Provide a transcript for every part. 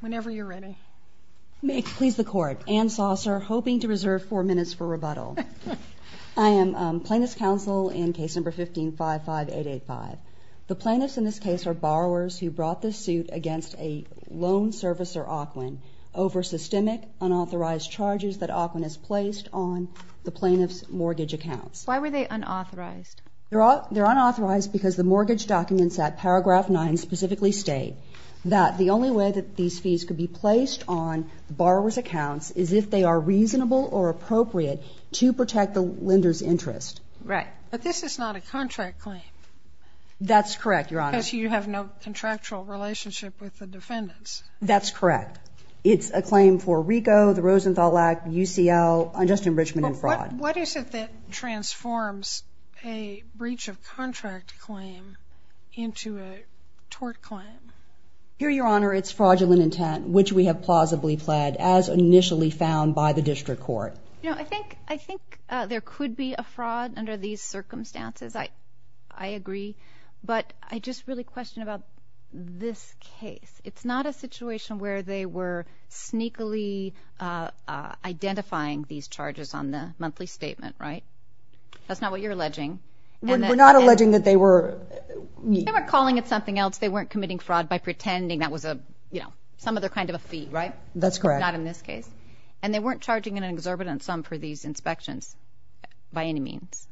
Whenever you're ready. May it please the court. Ann Saucer, hoping to reserve four minutes for rebuttal. I am plaintiff's counsel in case number 15-55885. The plaintiffs in this case are borrowers who brought this suit against a loan service or Ocwen over systemic unauthorized charges that Ocwen has placed on the plaintiff's mortgage accounts. Why were they unauthorized? They're unauthorized because the mortgage documents at paragraph 9 specifically state that the only way that these fees could be placed on borrower's accounts is if they are reasonable or appropriate to protect the lender's interest. Right, but this is not a contract claim. That's correct, Your Honor. Because you have no contractual relationship with the defendants. That's correct. It's a claim for RICO, the Rosenthal Act, UCL, unjust enrichment and tort claim. Here, Your Honor, it's fraudulent intent, which we have plausibly pled, as initially found by the district court. You know, I think, I think there could be a fraud under these circumstances. I, I agree, but I just really question about this case. It's not a situation where they were sneakily identifying these charges on the monthly statement, right? That's not what you're alleging that they were... They were calling it something else. They weren't committing fraud by pretending that was a, you know, some other kind of a fee, right? That's correct. Not in this case. And they weren't charging an exorbitant sum for these inspections, by any means.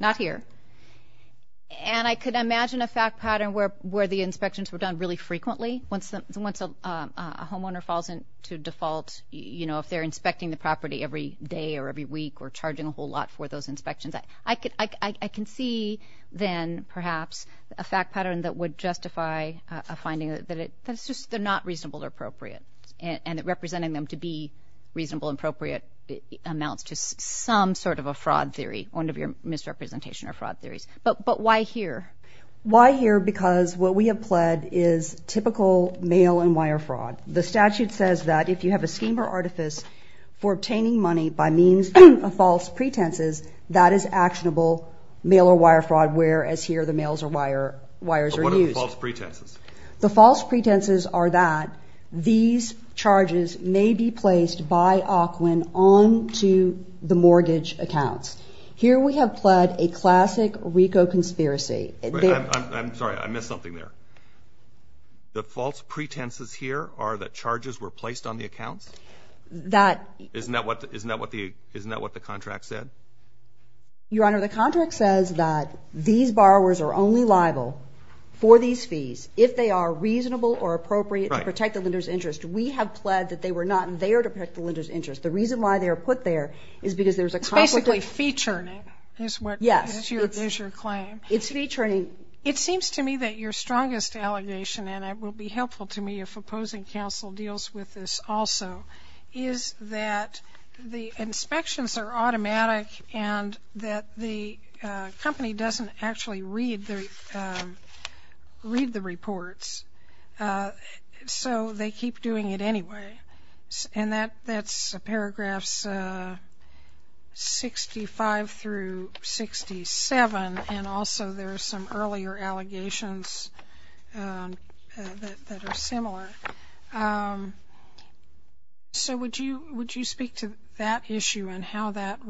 Not here. And I could imagine a fact pattern where, where the inspections were done really frequently. Once, once a homeowner falls into default, you know, if they're inspecting the property every day or every week or charging a whole lot for those inspections. I could, I can see then, perhaps, a fact pattern that would justify a finding that it, that it's just, they're not reasonable or appropriate. And, and it representing them to be reasonable and appropriate amounts to some sort of a fraud theory, one of your misrepresentation or fraud theories. But, but why here? Why here? Because what we have pled is typical mail and wire fraud. The statute says that if you have a scheme or artifice for obtaining money by means of false pretenses, that is actionable mail or wire fraud, whereas here the mails or wire, wires are used. But what are the false pretenses? The false pretenses are that these charges may be placed by Ocwen on to the mortgage accounts. Here we have pled a classic RICO conspiracy. I'm sorry, I missed something there. The false pretenses here are that charges were placed on the accounts? That... Isn't that what, isn't Your Honor, the contract says that these borrowers are only liable for these fees if they are reasonable or appropriate to protect the lender's interest. We have pled that they were not there to protect the lender's interest. The reason why they are put there is because there's a conflict... It's basically fee churning is what... Yes. Is your claim. It's fee churning. It seems to me that your strongest allegation, and it will be helpful to me if opposing counsel deals with this also, is that the company doesn't actually read the reports, so they keep doing it anyway. And that's paragraphs 65 through 67, and also there are some earlier allegations that are similar. So would you speak to that issue and how that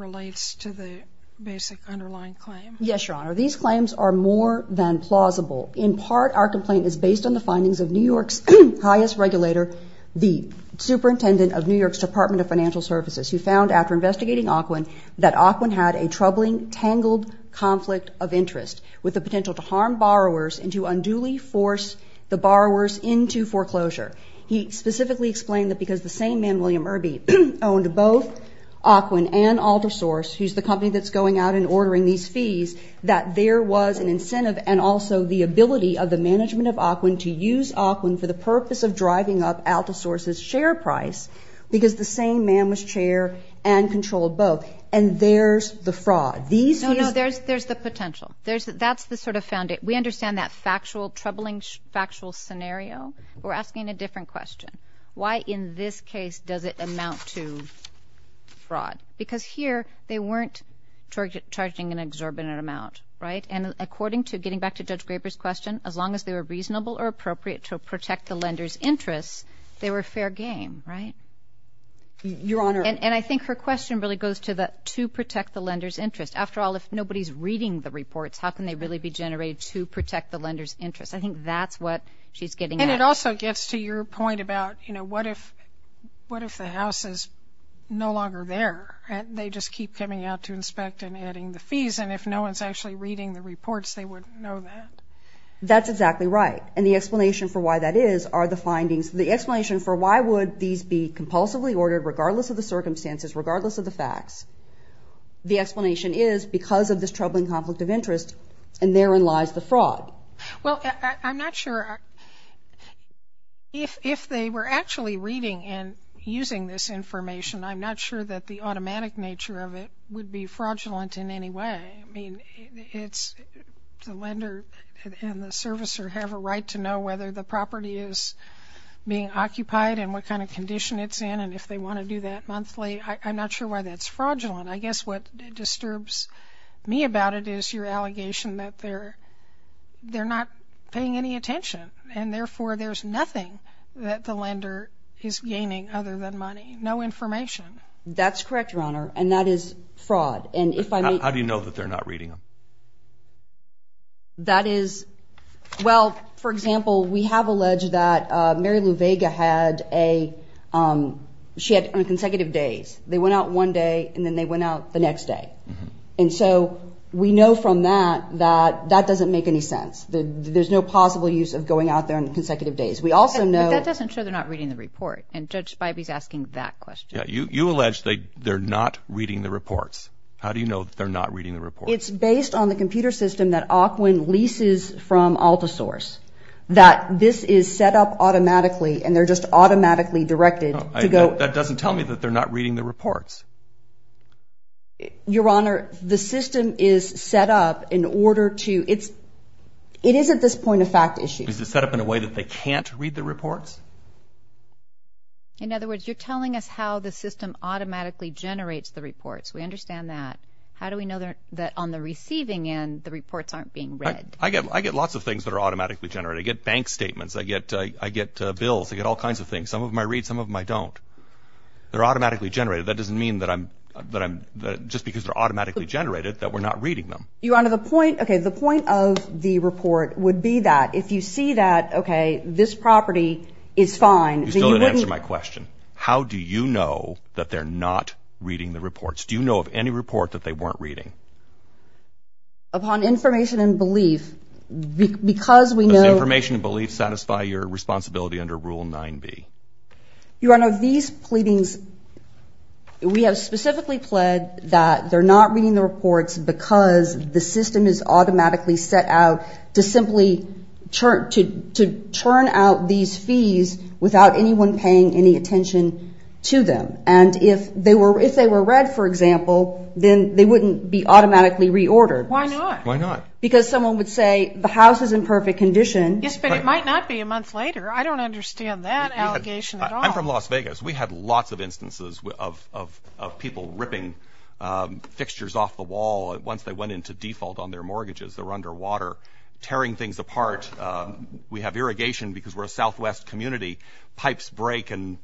basic underlying claim? Yes, Your Honor. These claims are more than plausible. In part, our complaint is based on the findings of New York's highest regulator, the superintendent of New York's Department of Financial Services, who found, after investigating Auquin, that Auquin had a troubling, tangled conflict of interest with the potential to harm borrowers and to unduly force the borrowers into foreclosure. He specifically explained that because the same man, William Irby, owned both Auquin and Altersource, who's the company that's going out and ordering these fees, that there was an incentive and also the ability of the management of Auquin to use Auquin for the purpose of driving up Altersource's share price, because the same man was chair and controlled both. And there's the fraud. These... No, no. There's the potential. That's the sort of found... We understand that factual, troubling factual scenario. We're asking a different question. Why in this case does it amount to fraud? Because here, they weren't charging an exorbitant amount, right? And according to... Getting back to Judge Graber's question, as long as they were reasonable or appropriate to protect the lender's interests, they were fair game, right? Your Honor... And I think her question really goes to the to protect the lender's interest. After all, if nobody's reading the reports, how can they really be generated to protect the lender's interest? I think that's what she's getting at. And it also gets to your point about, you know, what if... What if the house is no longer there, and they just keep coming out to inspect and adding the fees, and if no one's actually reading the reports, they wouldn't know that. That's exactly right. And the explanation for why that is are the findings. The explanation for why would these be compulsively ordered, regardless of the circumstances, regardless of the facts, the explanation is because of this troubling conflict of interest, and therein lies the fraud. Well, I'm not sure... If they were actually reading and using this information, I'm not sure that the automatic nature of it would be fraudulent in any way. I mean, it's... The lender and the servicer have a right to know whether the property is being occupied, and what kind of condition it's in, and if they want to do that monthly. I'm not sure why that's fraudulent. I guess what disturbs me about it is your attention, and therefore, there's nothing that the lender is gaining other than money. No information. That's correct, Your Honor, and that is fraud, and if I... How do you know that they're not reading them? That is... Well, for example, we have alleged that Mary Lou Vega had a... She had consecutive days. They went out one day, and then they went out the next day, and so we know from that that that there's no possible use of going out there on consecutive days. We also know... But that doesn't show they're not reading the report, and Judge Spivey's asking that question. Yeah, you allege that they're not reading the reports. How do you know that they're not reading the reports? It's based on the computer system that Aukwin leases from AltaSource, that this is set up automatically, and they're just automatically directed to go... That doesn't tell me that they're not reading the reports. Your Honor, the system is set up in order to... It's... It is at this point a fact issue. Is it set up in a way that they can't read the reports? In other words, you're telling us how the system automatically generates the reports. We understand that. How do we know that on the receiving end, the reports aren't being read? I get... I get lots of things that are automatically generated. I get bank statements. I get... I get bills. I get all kinds of things. Some of them I read, some of them I don't. They're automatically generated. That doesn't mean that I'm... that I'm... Just because they're automatically generated, that we're not reading them. Your Honor, the point... Okay, the point of the report would be that if you see that, okay, this property is fine... You still didn't answer my question. How do you know that they're not reading the reports? Do you know of any report that they weren't reading? Upon information and belief. Because we know... Does information and belief satisfy your responsibility under Rule 9b? Your Honor, these pleadings... We have specifically pled that they're not automatically set out to simply... to turn out these fees without anyone paying any attention to them. And if they were... if they were read, for example, then they wouldn't be automatically reordered. Why not? Why not? Because someone would say, the house is in perfect condition. Yes, but it might not be a month later. I don't understand that allegation at all. I'm from Las Vegas. We had lots of instances of people ripping fixtures off the wall once they went into default on their mortgages. They're underwater, tearing things apart. We have irrigation because we're a Southwest community. Pipes break and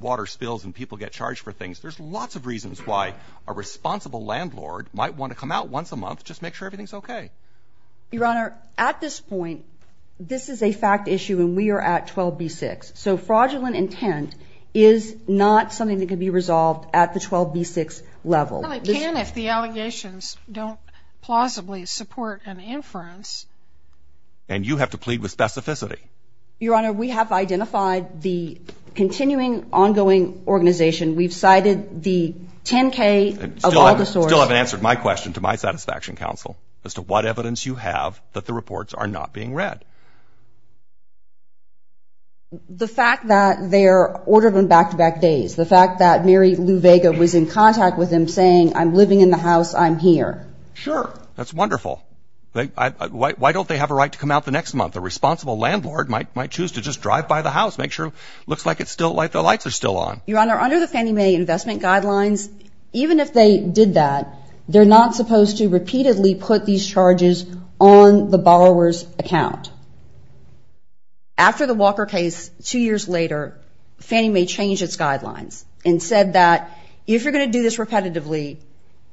water spills and people get charged for things. There's lots of reasons why a responsible landlord might want to come out once a month just make sure everything's okay. Your Honor, at this point, this is a fact issue and we are at 12b-6. So fraudulent intent is not something that can be resolved at the 12b-6 level. I can if the allegations don't plausibly support an inference. And you have to plead with specificity. Your Honor, we have identified the continuing ongoing organization. We've cited the 10k of all the sources. Still haven't answered my question to my satisfaction counsel as to what evidence you have that the reports are not being read. The fact that they're ordered on back-to-back days. The fact that Mary Lou Vega was in contact with them saying, I'm living in the house, I'm here. Sure, that's wonderful. Why don't they have a right to come out the next month? A responsible landlord might choose to just drive by the house. Make sure it looks like it's still like the lights are still on. Your Honor, under the Fannie Mae investment guidelines, even if they did that, they're not supposed to repeatedly put these charges on the borrower's account. After the Walker case, two years later, Fannie Mae changed its rules repetitively.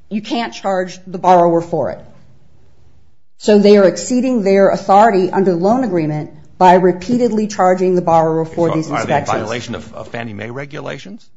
You can't charge the borrower for it. So they are exceeding their authority under the loan agreement by repeatedly charging the borrower for these inspections. Are they in violation of Fannie Mae regulations?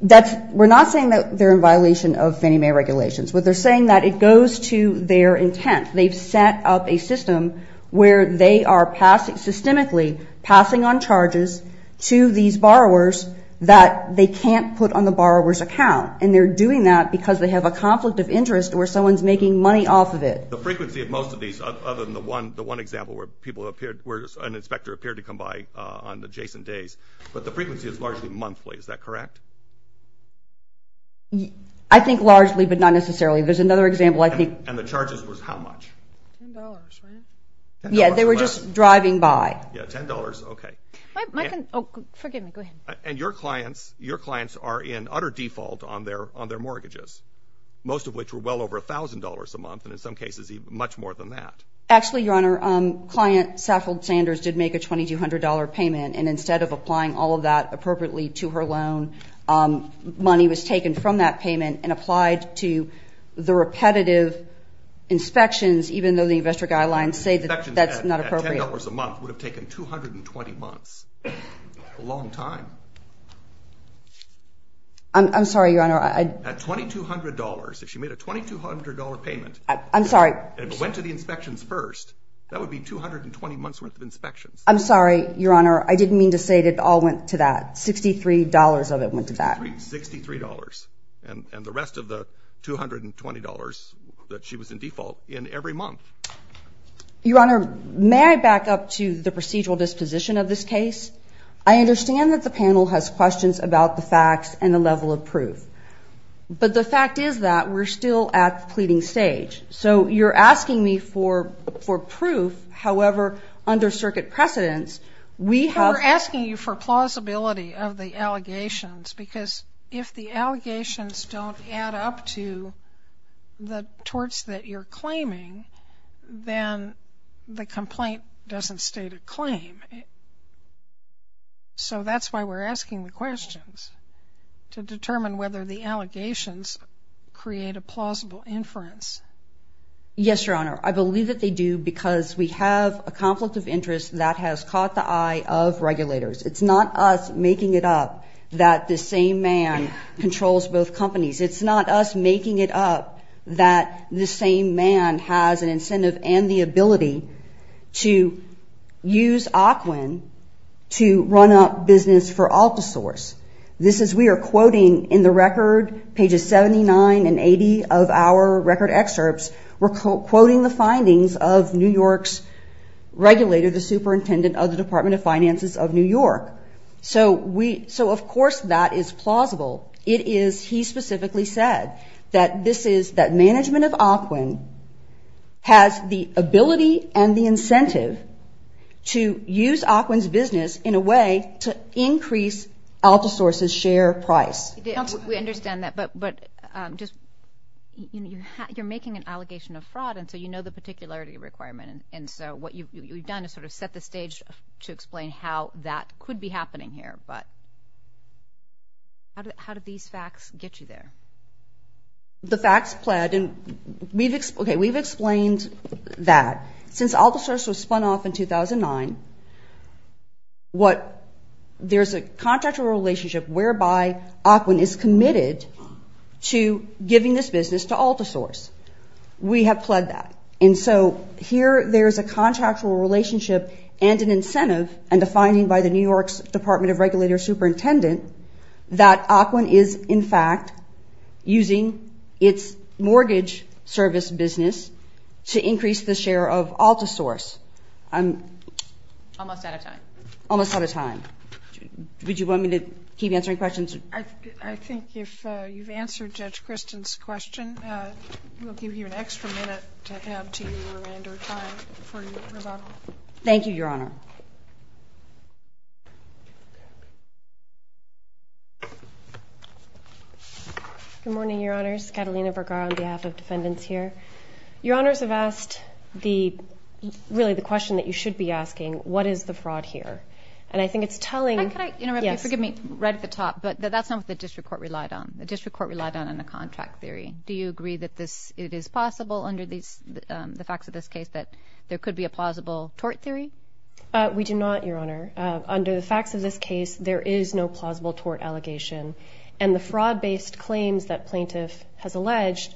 That's, we're not saying that they're in violation of Fannie Mae regulations, but they're saying that it goes to their intent. They've set up a system where they are passing, systemically, passing on charges to these borrowers that they can't put on the borrower's account. And they're doing that because they have a conflict of interest or someone's making money off of it. The frequency of most of these, other than the one example where people appeared, where an inspector appeared to come by on adjacent days, but the frequency is largely monthly, is that correct? I think largely, but not necessarily. There's another example, I think. And the charges was how much? $10, right? Yeah, they were just driving by. Yeah, $10, okay. And your clients, your clients are in utter default on their mortgages, most of which were well over $1,000 a month, and in some cases even much more than that. Actually, Your Honor, client Saffold Sanders did make a $2,200 payment, and instead of applying all of that appropriately to her loan, money was taken from that payment and applied to the repetitive inspections, even though the investor guidelines say that that's not appropriate. $10 a month would have been $220 months, a long time. I'm sorry, Your Honor. At $2,200, if she made a $2,200 payment... I'm sorry. And went to the inspections first, that would be 220 months worth of inspections. I'm sorry, Your Honor. I didn't mean to say that it all went to that. $63 of it went to that. $63, and the rest of the $220 that she was in default in every month. Your Honor, may I back up to the procedural disposition of this case? I understand that the panel has questions about the facts and the level of proof, but the fact is that we're still at the pleading stage. So you're asking me for proof, however, under circuit precedence, we have... We're asking you for plausibility of the allegations, because if the allegations don't add up to the torts that you're claiming, then the claim... So that's why we're asking the questions, to determine whether the allegations create a plausible inference. Yes, Your Honor. I believe that they do, because we have a conflict of interest that has caught the eye of regulators. It's not us making it up that the same man controls both companies. It's not us using Aquin to run up business for Altasource. This is... We are quoting in the record, pages 79 and 80 of our record excerpts, we're quoting the findings of New York's regulator, the superintendent of the Department of Finances of New York. So of course that is plausible. It is... He specifically said that this is... That we understand that, but just... You're making an allegation of fraud, and so you know the particularity requirement. And so what you've done is sort of set the stage to explain how that could be happening here. But how did these facts get you there? The facts pled, and we've... Okay, we've explained that. Since Altasource was spun off in 2009, what... There's a contractual relationship whereby Aquin is committed to giving this business to Altasource. We have pled that. And so here there's a contractual relationship, and an incentive, and a finding by the New using its mortgage service business to increase the share of Altasource. I'm... Almost out of time. Almost out of time. Would you want me to keep answering questions? I think if you've answered Judge Kristen's question, we'll give you an extra minute to add to your remainder of time for your rebuttal. Thank you, Your Honor. Good morning, Your Honors. Catalina Bergara on behalf of defendants here. Your Honors have asked the... Really the question that you should be asking, what is the fraud here? And I think it's telling... Could I interrupt you? Forgive me. Right at the top, but that's not what the district court relied on. The district court relied on a contract theory. Do you agree that this... It is possible under the facts of this case that there could be a plausible tort theory? We do not, Your Honor. Under the facts of this case, there is no plausible tort allegation. And the fraud-based claims that plaintiff has alleged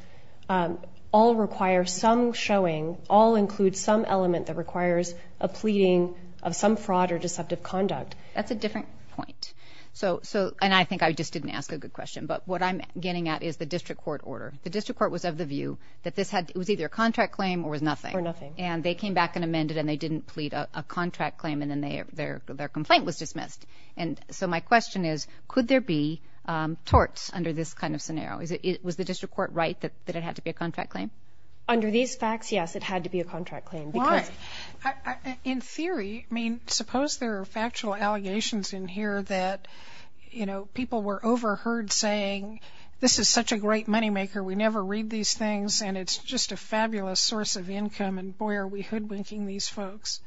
all require some showing, all include some element that requires a pleading of some fraud or deceptive conduct. That's a different point. So... And I think I just didn't ask a good question. But what I'm getting at is the district court order. The district court was of the view that this had... It was either a contract claim or was nothing. Or nothing. And they came back and amended and they didn't plead a contract claim and then their complaint was dismissed. And so my question is, could there be torts under this kind of scenario? Was the district court right that it had to be a contract claim? Under these facts, yes, it had to be a contract claim. Why? In theory, I mean, suppose there are factual allegations in here that people were overheard saying, this is such a great moneymaker. We never read these things. And it's just a fabulous source of income. And boy, are we hoodwinking these folks.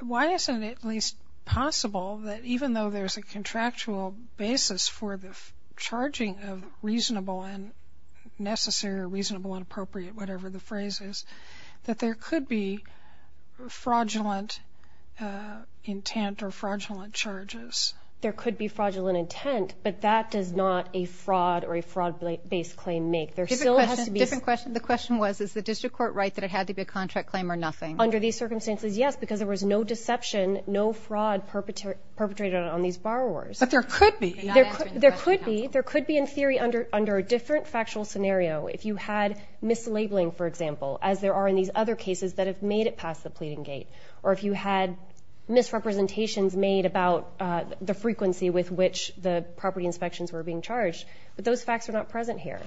Why isn't it at least possible that even though there's a contractual basis for the charging of reasonable and necessary, reasonable and appropriate, whatever the phrase is, that there could be fraudulent intent or fraudulent charges? There could be fraudulent intent, but that does not a fraud or a fraud-based claim make. There still has to be... Different question. The question was, is the district court right that it had to be a contract claim or nothing? Under these circumstances, yes, because there was no deception, no fraud perpetrated on these borrowers. But there could be. There could be. There could be in theory under a different factual scenario. If you had mislabeling, for example, as there are in these other cases that have made it past the pleading gate, or if you had misrepresentations made about the frequency with which the property inspections were being charged, but those facts are not present here.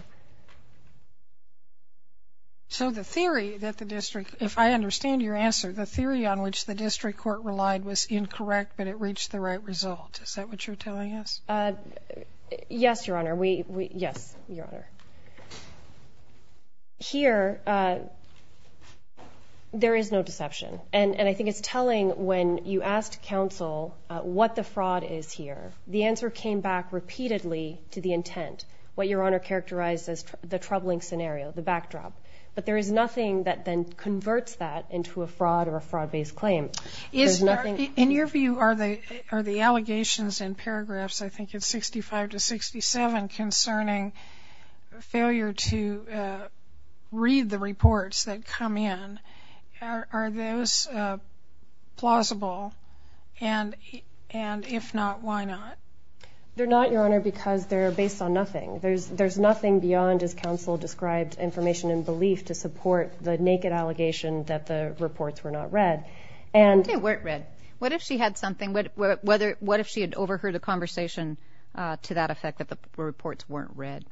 So the theory that the district, if I understand your answer, the theory on which the district court relied was incorrect, but it reached the right result. Is that what you're telling us? Yes, Your Honor. We, we, yes, Your Honor. Here, there is no deception. And I think it's telling when you asked counsel what the fraud is here. The answer came back repeatedly to the intent. What Your Honor characterized as the troubling scenario, the backdrop. But there is nothing that then converts that into a fraud or a fraud based claim. In your view, are the, are the allegations in paragraphs, I think it's 65 to 67 concerning failure to read the reports that come in. Are those plausible? And, and if not, why not? They're not, Your Honor, because they're based on nothing. There's, there's nothing beyond, as counsel described, information and belief to support the naked allegation that the reports were not read. And... They weren't read. What if she had something, what, whether, what if she had overheard a conversation to that effect that the reports weren't read?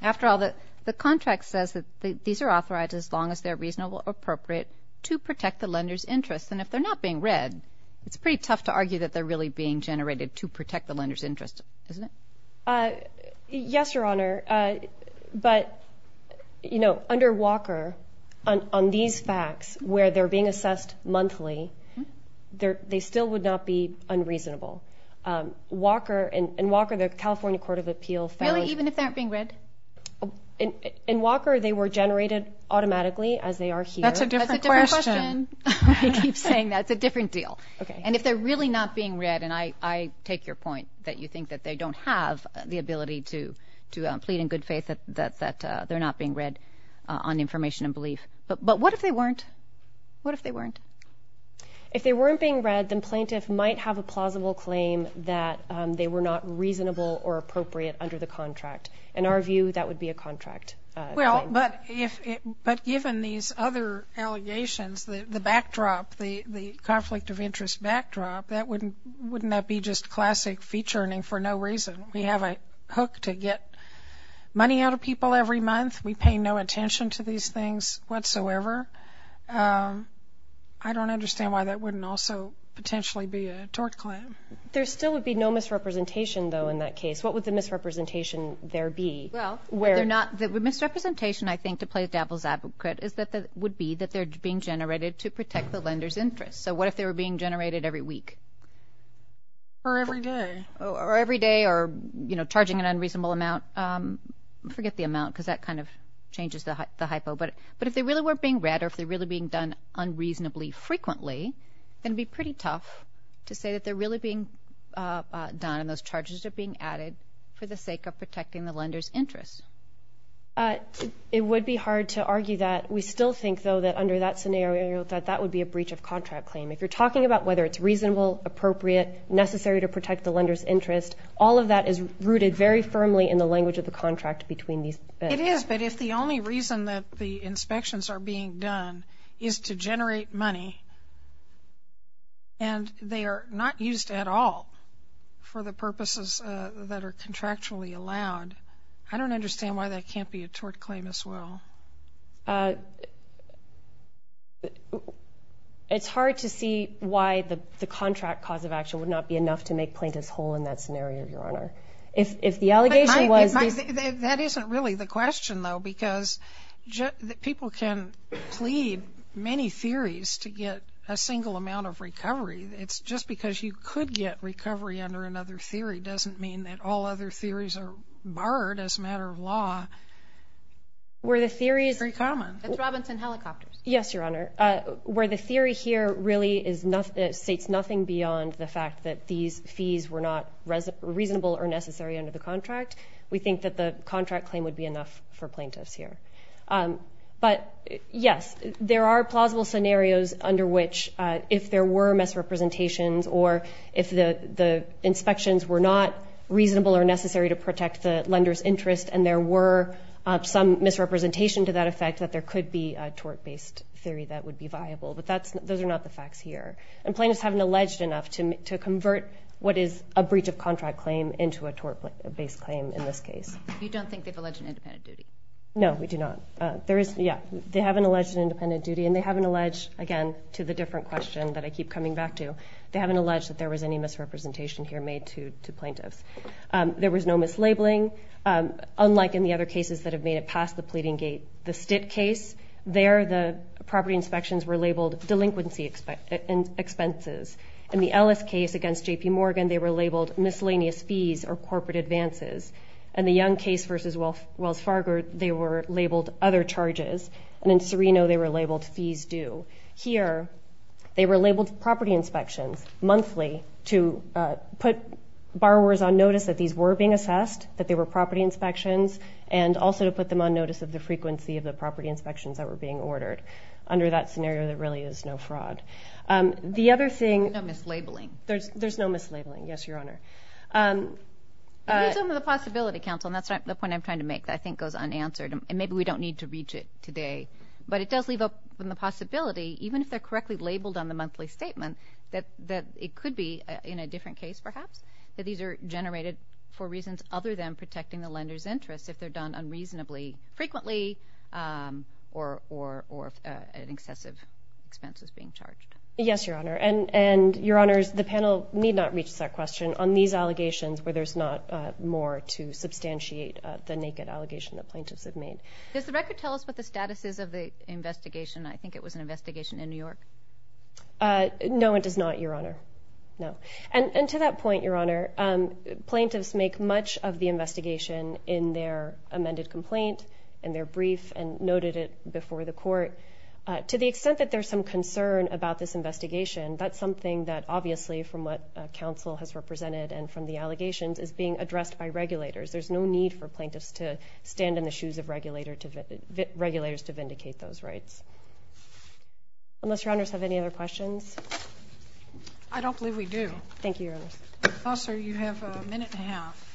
After all, the, the contract says that these are authorized as long as they're reasonable, appropriate to protect the lender's interests. And if they're not being read, it's pretty tough to argue that they're really being the lender's interest, isn't it? Yes, Your Honor. But, you know, under Walker, on, on these facts where they're being assessed monthly, they're, they still would not be unreasonable. Walker, in, in Walker, the California Court of Appeal found... Really? Even if they aren't being read? In Walker, they were generated automatically as they are here. That's a different question. I keep saying that's a different deal. And if they're really not being read, and I, I take your point that you think that they don't have the ability to, to plead in good faith that, that, that they're not being read on information and belief. But, but what if they weren't? What if they weren't? If they weren't being read, then plaintiff might have a plausible claim that they were not reasonable or appropriate under the contract. In our view, that would be a contract claim. Well, but if, but given these other allegations, the, the backdrop, the, the conflict of interest backdrop, that wouldn't, wouldn't that be just classic featurening for no reason? We have a hook to get money out of people every month. We pay no attention to these things whatsoever. I don't understand why that wouldn't also potentially be a tort claim. There still would be no misrepresentation, though, in that case. What would the misrepresentation there be? Well, they're not, the misrepresentation, I think, to play devil's advocate is that the, would be that they're being generated to protect the lender's interests. So what if they were being generated every week? Or every day. Or every day or, you know, charging an unreasonable amount. Forget the amount because that kind of changes the, the hypo. But, but if they really weren't being read or if they're really being done unreasonably frequently, then it'd be pretty tough to say that they're really being done and those charges are being added for the sake of protecting the lender's interests. It would be hard to argue that. We still think, though, that under that scenario, that that would be a breach of contract claim. If you're talking about whether it's reasonable, appropriate, necessary to protect the lender's interest, all of that is rooted very firmly in the language of the contract between these. It is, but if the only reason that the inspections are being done is to generate money and they are not used at all for the purposes that are contractually allowed, I don't understand why that can't be a tort claim as well. It's hard to see why the, the contract cause of action would not be enough to make plaintiffs whole in that scenario, Your Honor. If, if the allegation was. That isn't really the question, though, because people can plead many theories to get a single amount of recovery. It's just because you could get recovery under another theory doesn't mean that all other theories are barred as a matter of law. Where the theory is very common. That's Robinson Helicopters. Yes, Your Honor, where the theory here really is not that states nothing beyond the fact that these fees were not reasonable or necessary under the contract. We think that the contract claim would be enough for plaintiffs here. But yes, there are plausible scenarios under which if there were misrepresentations or if the inspections were not reasonable or necessary to protect the lender's interest and there were some misrepresentation to that effect that there could be a tort-based theory that would be viable. But that's, those are not the facts here. And plaintiffs haven't alleged enough to, to convert what is a breach of contract claim into a tort-based claim in this case. You don't think they've alleged an independent duty? No, we do not. There is, yeah, they haven't alleged an independent duty and they haven't alleged, again, to the different question that I keep coming back to, they haven't alleged that there was any misrepresentation here made to, to plaintiffs. There was no mislabeling, unlike in the other cases that have made it past the pleading gate. The Stitt case, there, the property inspections were labeled delinquency expenses. In the Ellis case against J.P. Morgan, they were labeled miscellaneous fees or corporate advances. In the Young case versus Wells Fargo, they were labeled other charges. And in Serino, they were labeled fees due. Here, they were labeled property inspections, monthly, to put borrowers on notice that these were being assessed, that they were property inspections, and also to put them on notice of the frequency of the property inspections that were being ordered. Under that scenario, there really is no fraud. The other thing... There's no mislabeling. There's, there's no mislabeling, yes, Your Honor. It gives them the possibility, counsel, and that's the point I'm trying to make, that I think goes unanswered, and maybe we don't need to reach it today, but it does leave up from the possibility, even if they're correctly labeled on the monthly statement, that, that it could be in a different case, perhaps, that these are generated for reasons other than protecting the lender's interests if they're done unreasonably frequently or, or, or an excessive expense is being charged. Yes, Your Honor, and, and, Your Honors, the panel need not reach that question on these allegations where there's not more to substantiate the naked allegation that plaintiffs have made. Does the record tell us what the status is of the investigation? I think it was an investigation in New York. Uh, no, it does not, Your Honor. No, and, and to that point, Your Honor, um, plaintiffs make much of the investigation in their amended complaint, in their brief, and noted it before the court. Uh, to the extent that there's some concern about this investigation, that's something that, obviously, from what, uh, counsel has represented and from the allegations, is being addressed by regulators. There's no need for plaintiffs to stand in the shoes of regulator to... regulators to vindicate those rights. Unless Your Honors have any other questions? I don't believe we do. Thank you, Your Honors. Counselor, you have a minute and a half.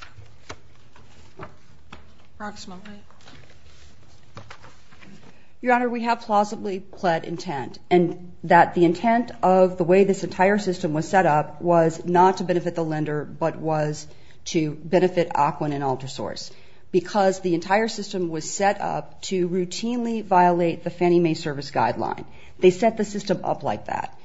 Approximately. Your Honor, we have plausibly pled intent and that the intent of the way this entire system was set up was not to benefit the lender but was to benefit Ocwen and Altersource. Because the entire system was set up to routinely violate the Fannie Mae Service Guideline. They set the system up like that.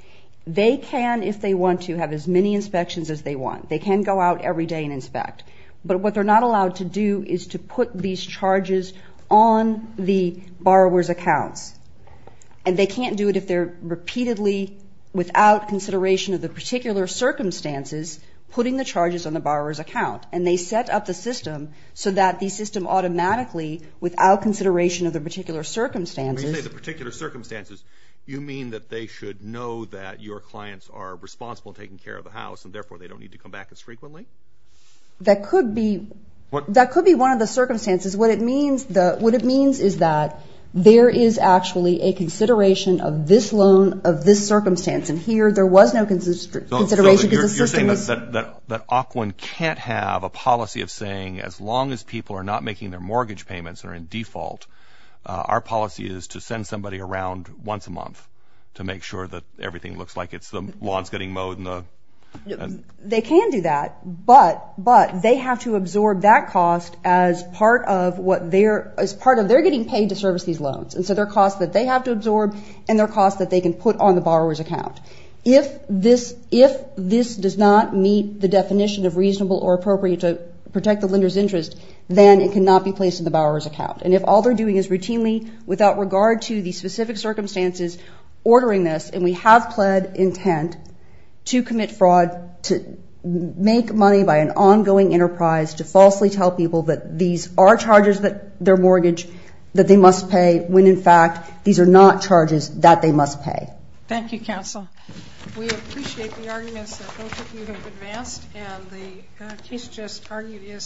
They can, if they want to, have as many inspections as they want. They can go out every day and inspect. But what they're not allowed to do is to put these charges on the borrower's accounts. And they can't do it if they're repeatedly, without consideration of the particular circumstances, putting the charges on the borrower's account. And they set up the system so that the system automatically, without consideration of the particular circumstances... When you say the particular circumstances, you mean that they should know that your clients are responsible in taking care of the house and therefore they don't need to come back as frequently? That could be one of the circumstances. What it means is that there is actually a consideration of this loan of this circumstance. And here, there was no consideration because the system is... So you're saying that Ocwen can't have a policy of saying, as long as people are not making their mortgage payments that are in default, our policy is to send somebody around once a month to make sure that everything looks like it's the lawn's getting mowed and the... They can do that. But they have to absorb that cost as part of what they're, as part of, they're getting paid to service these loans. And so there are costs that they have to absorb and there are costs that are being put on the borrower's account. If this does not meet the definition of reasonable or appropriate to protect the lender's interest, then it cannot be placed in the borrower's account. And if all they're doing is routinely, without regard to the specific circumstances, ordering this, and we have pled intent to commit fraud, to make money by an ongoing enterprise, to falsely tell people that these are charges that their mortgage, that they must pay, when in fact these are not charges that they must pay.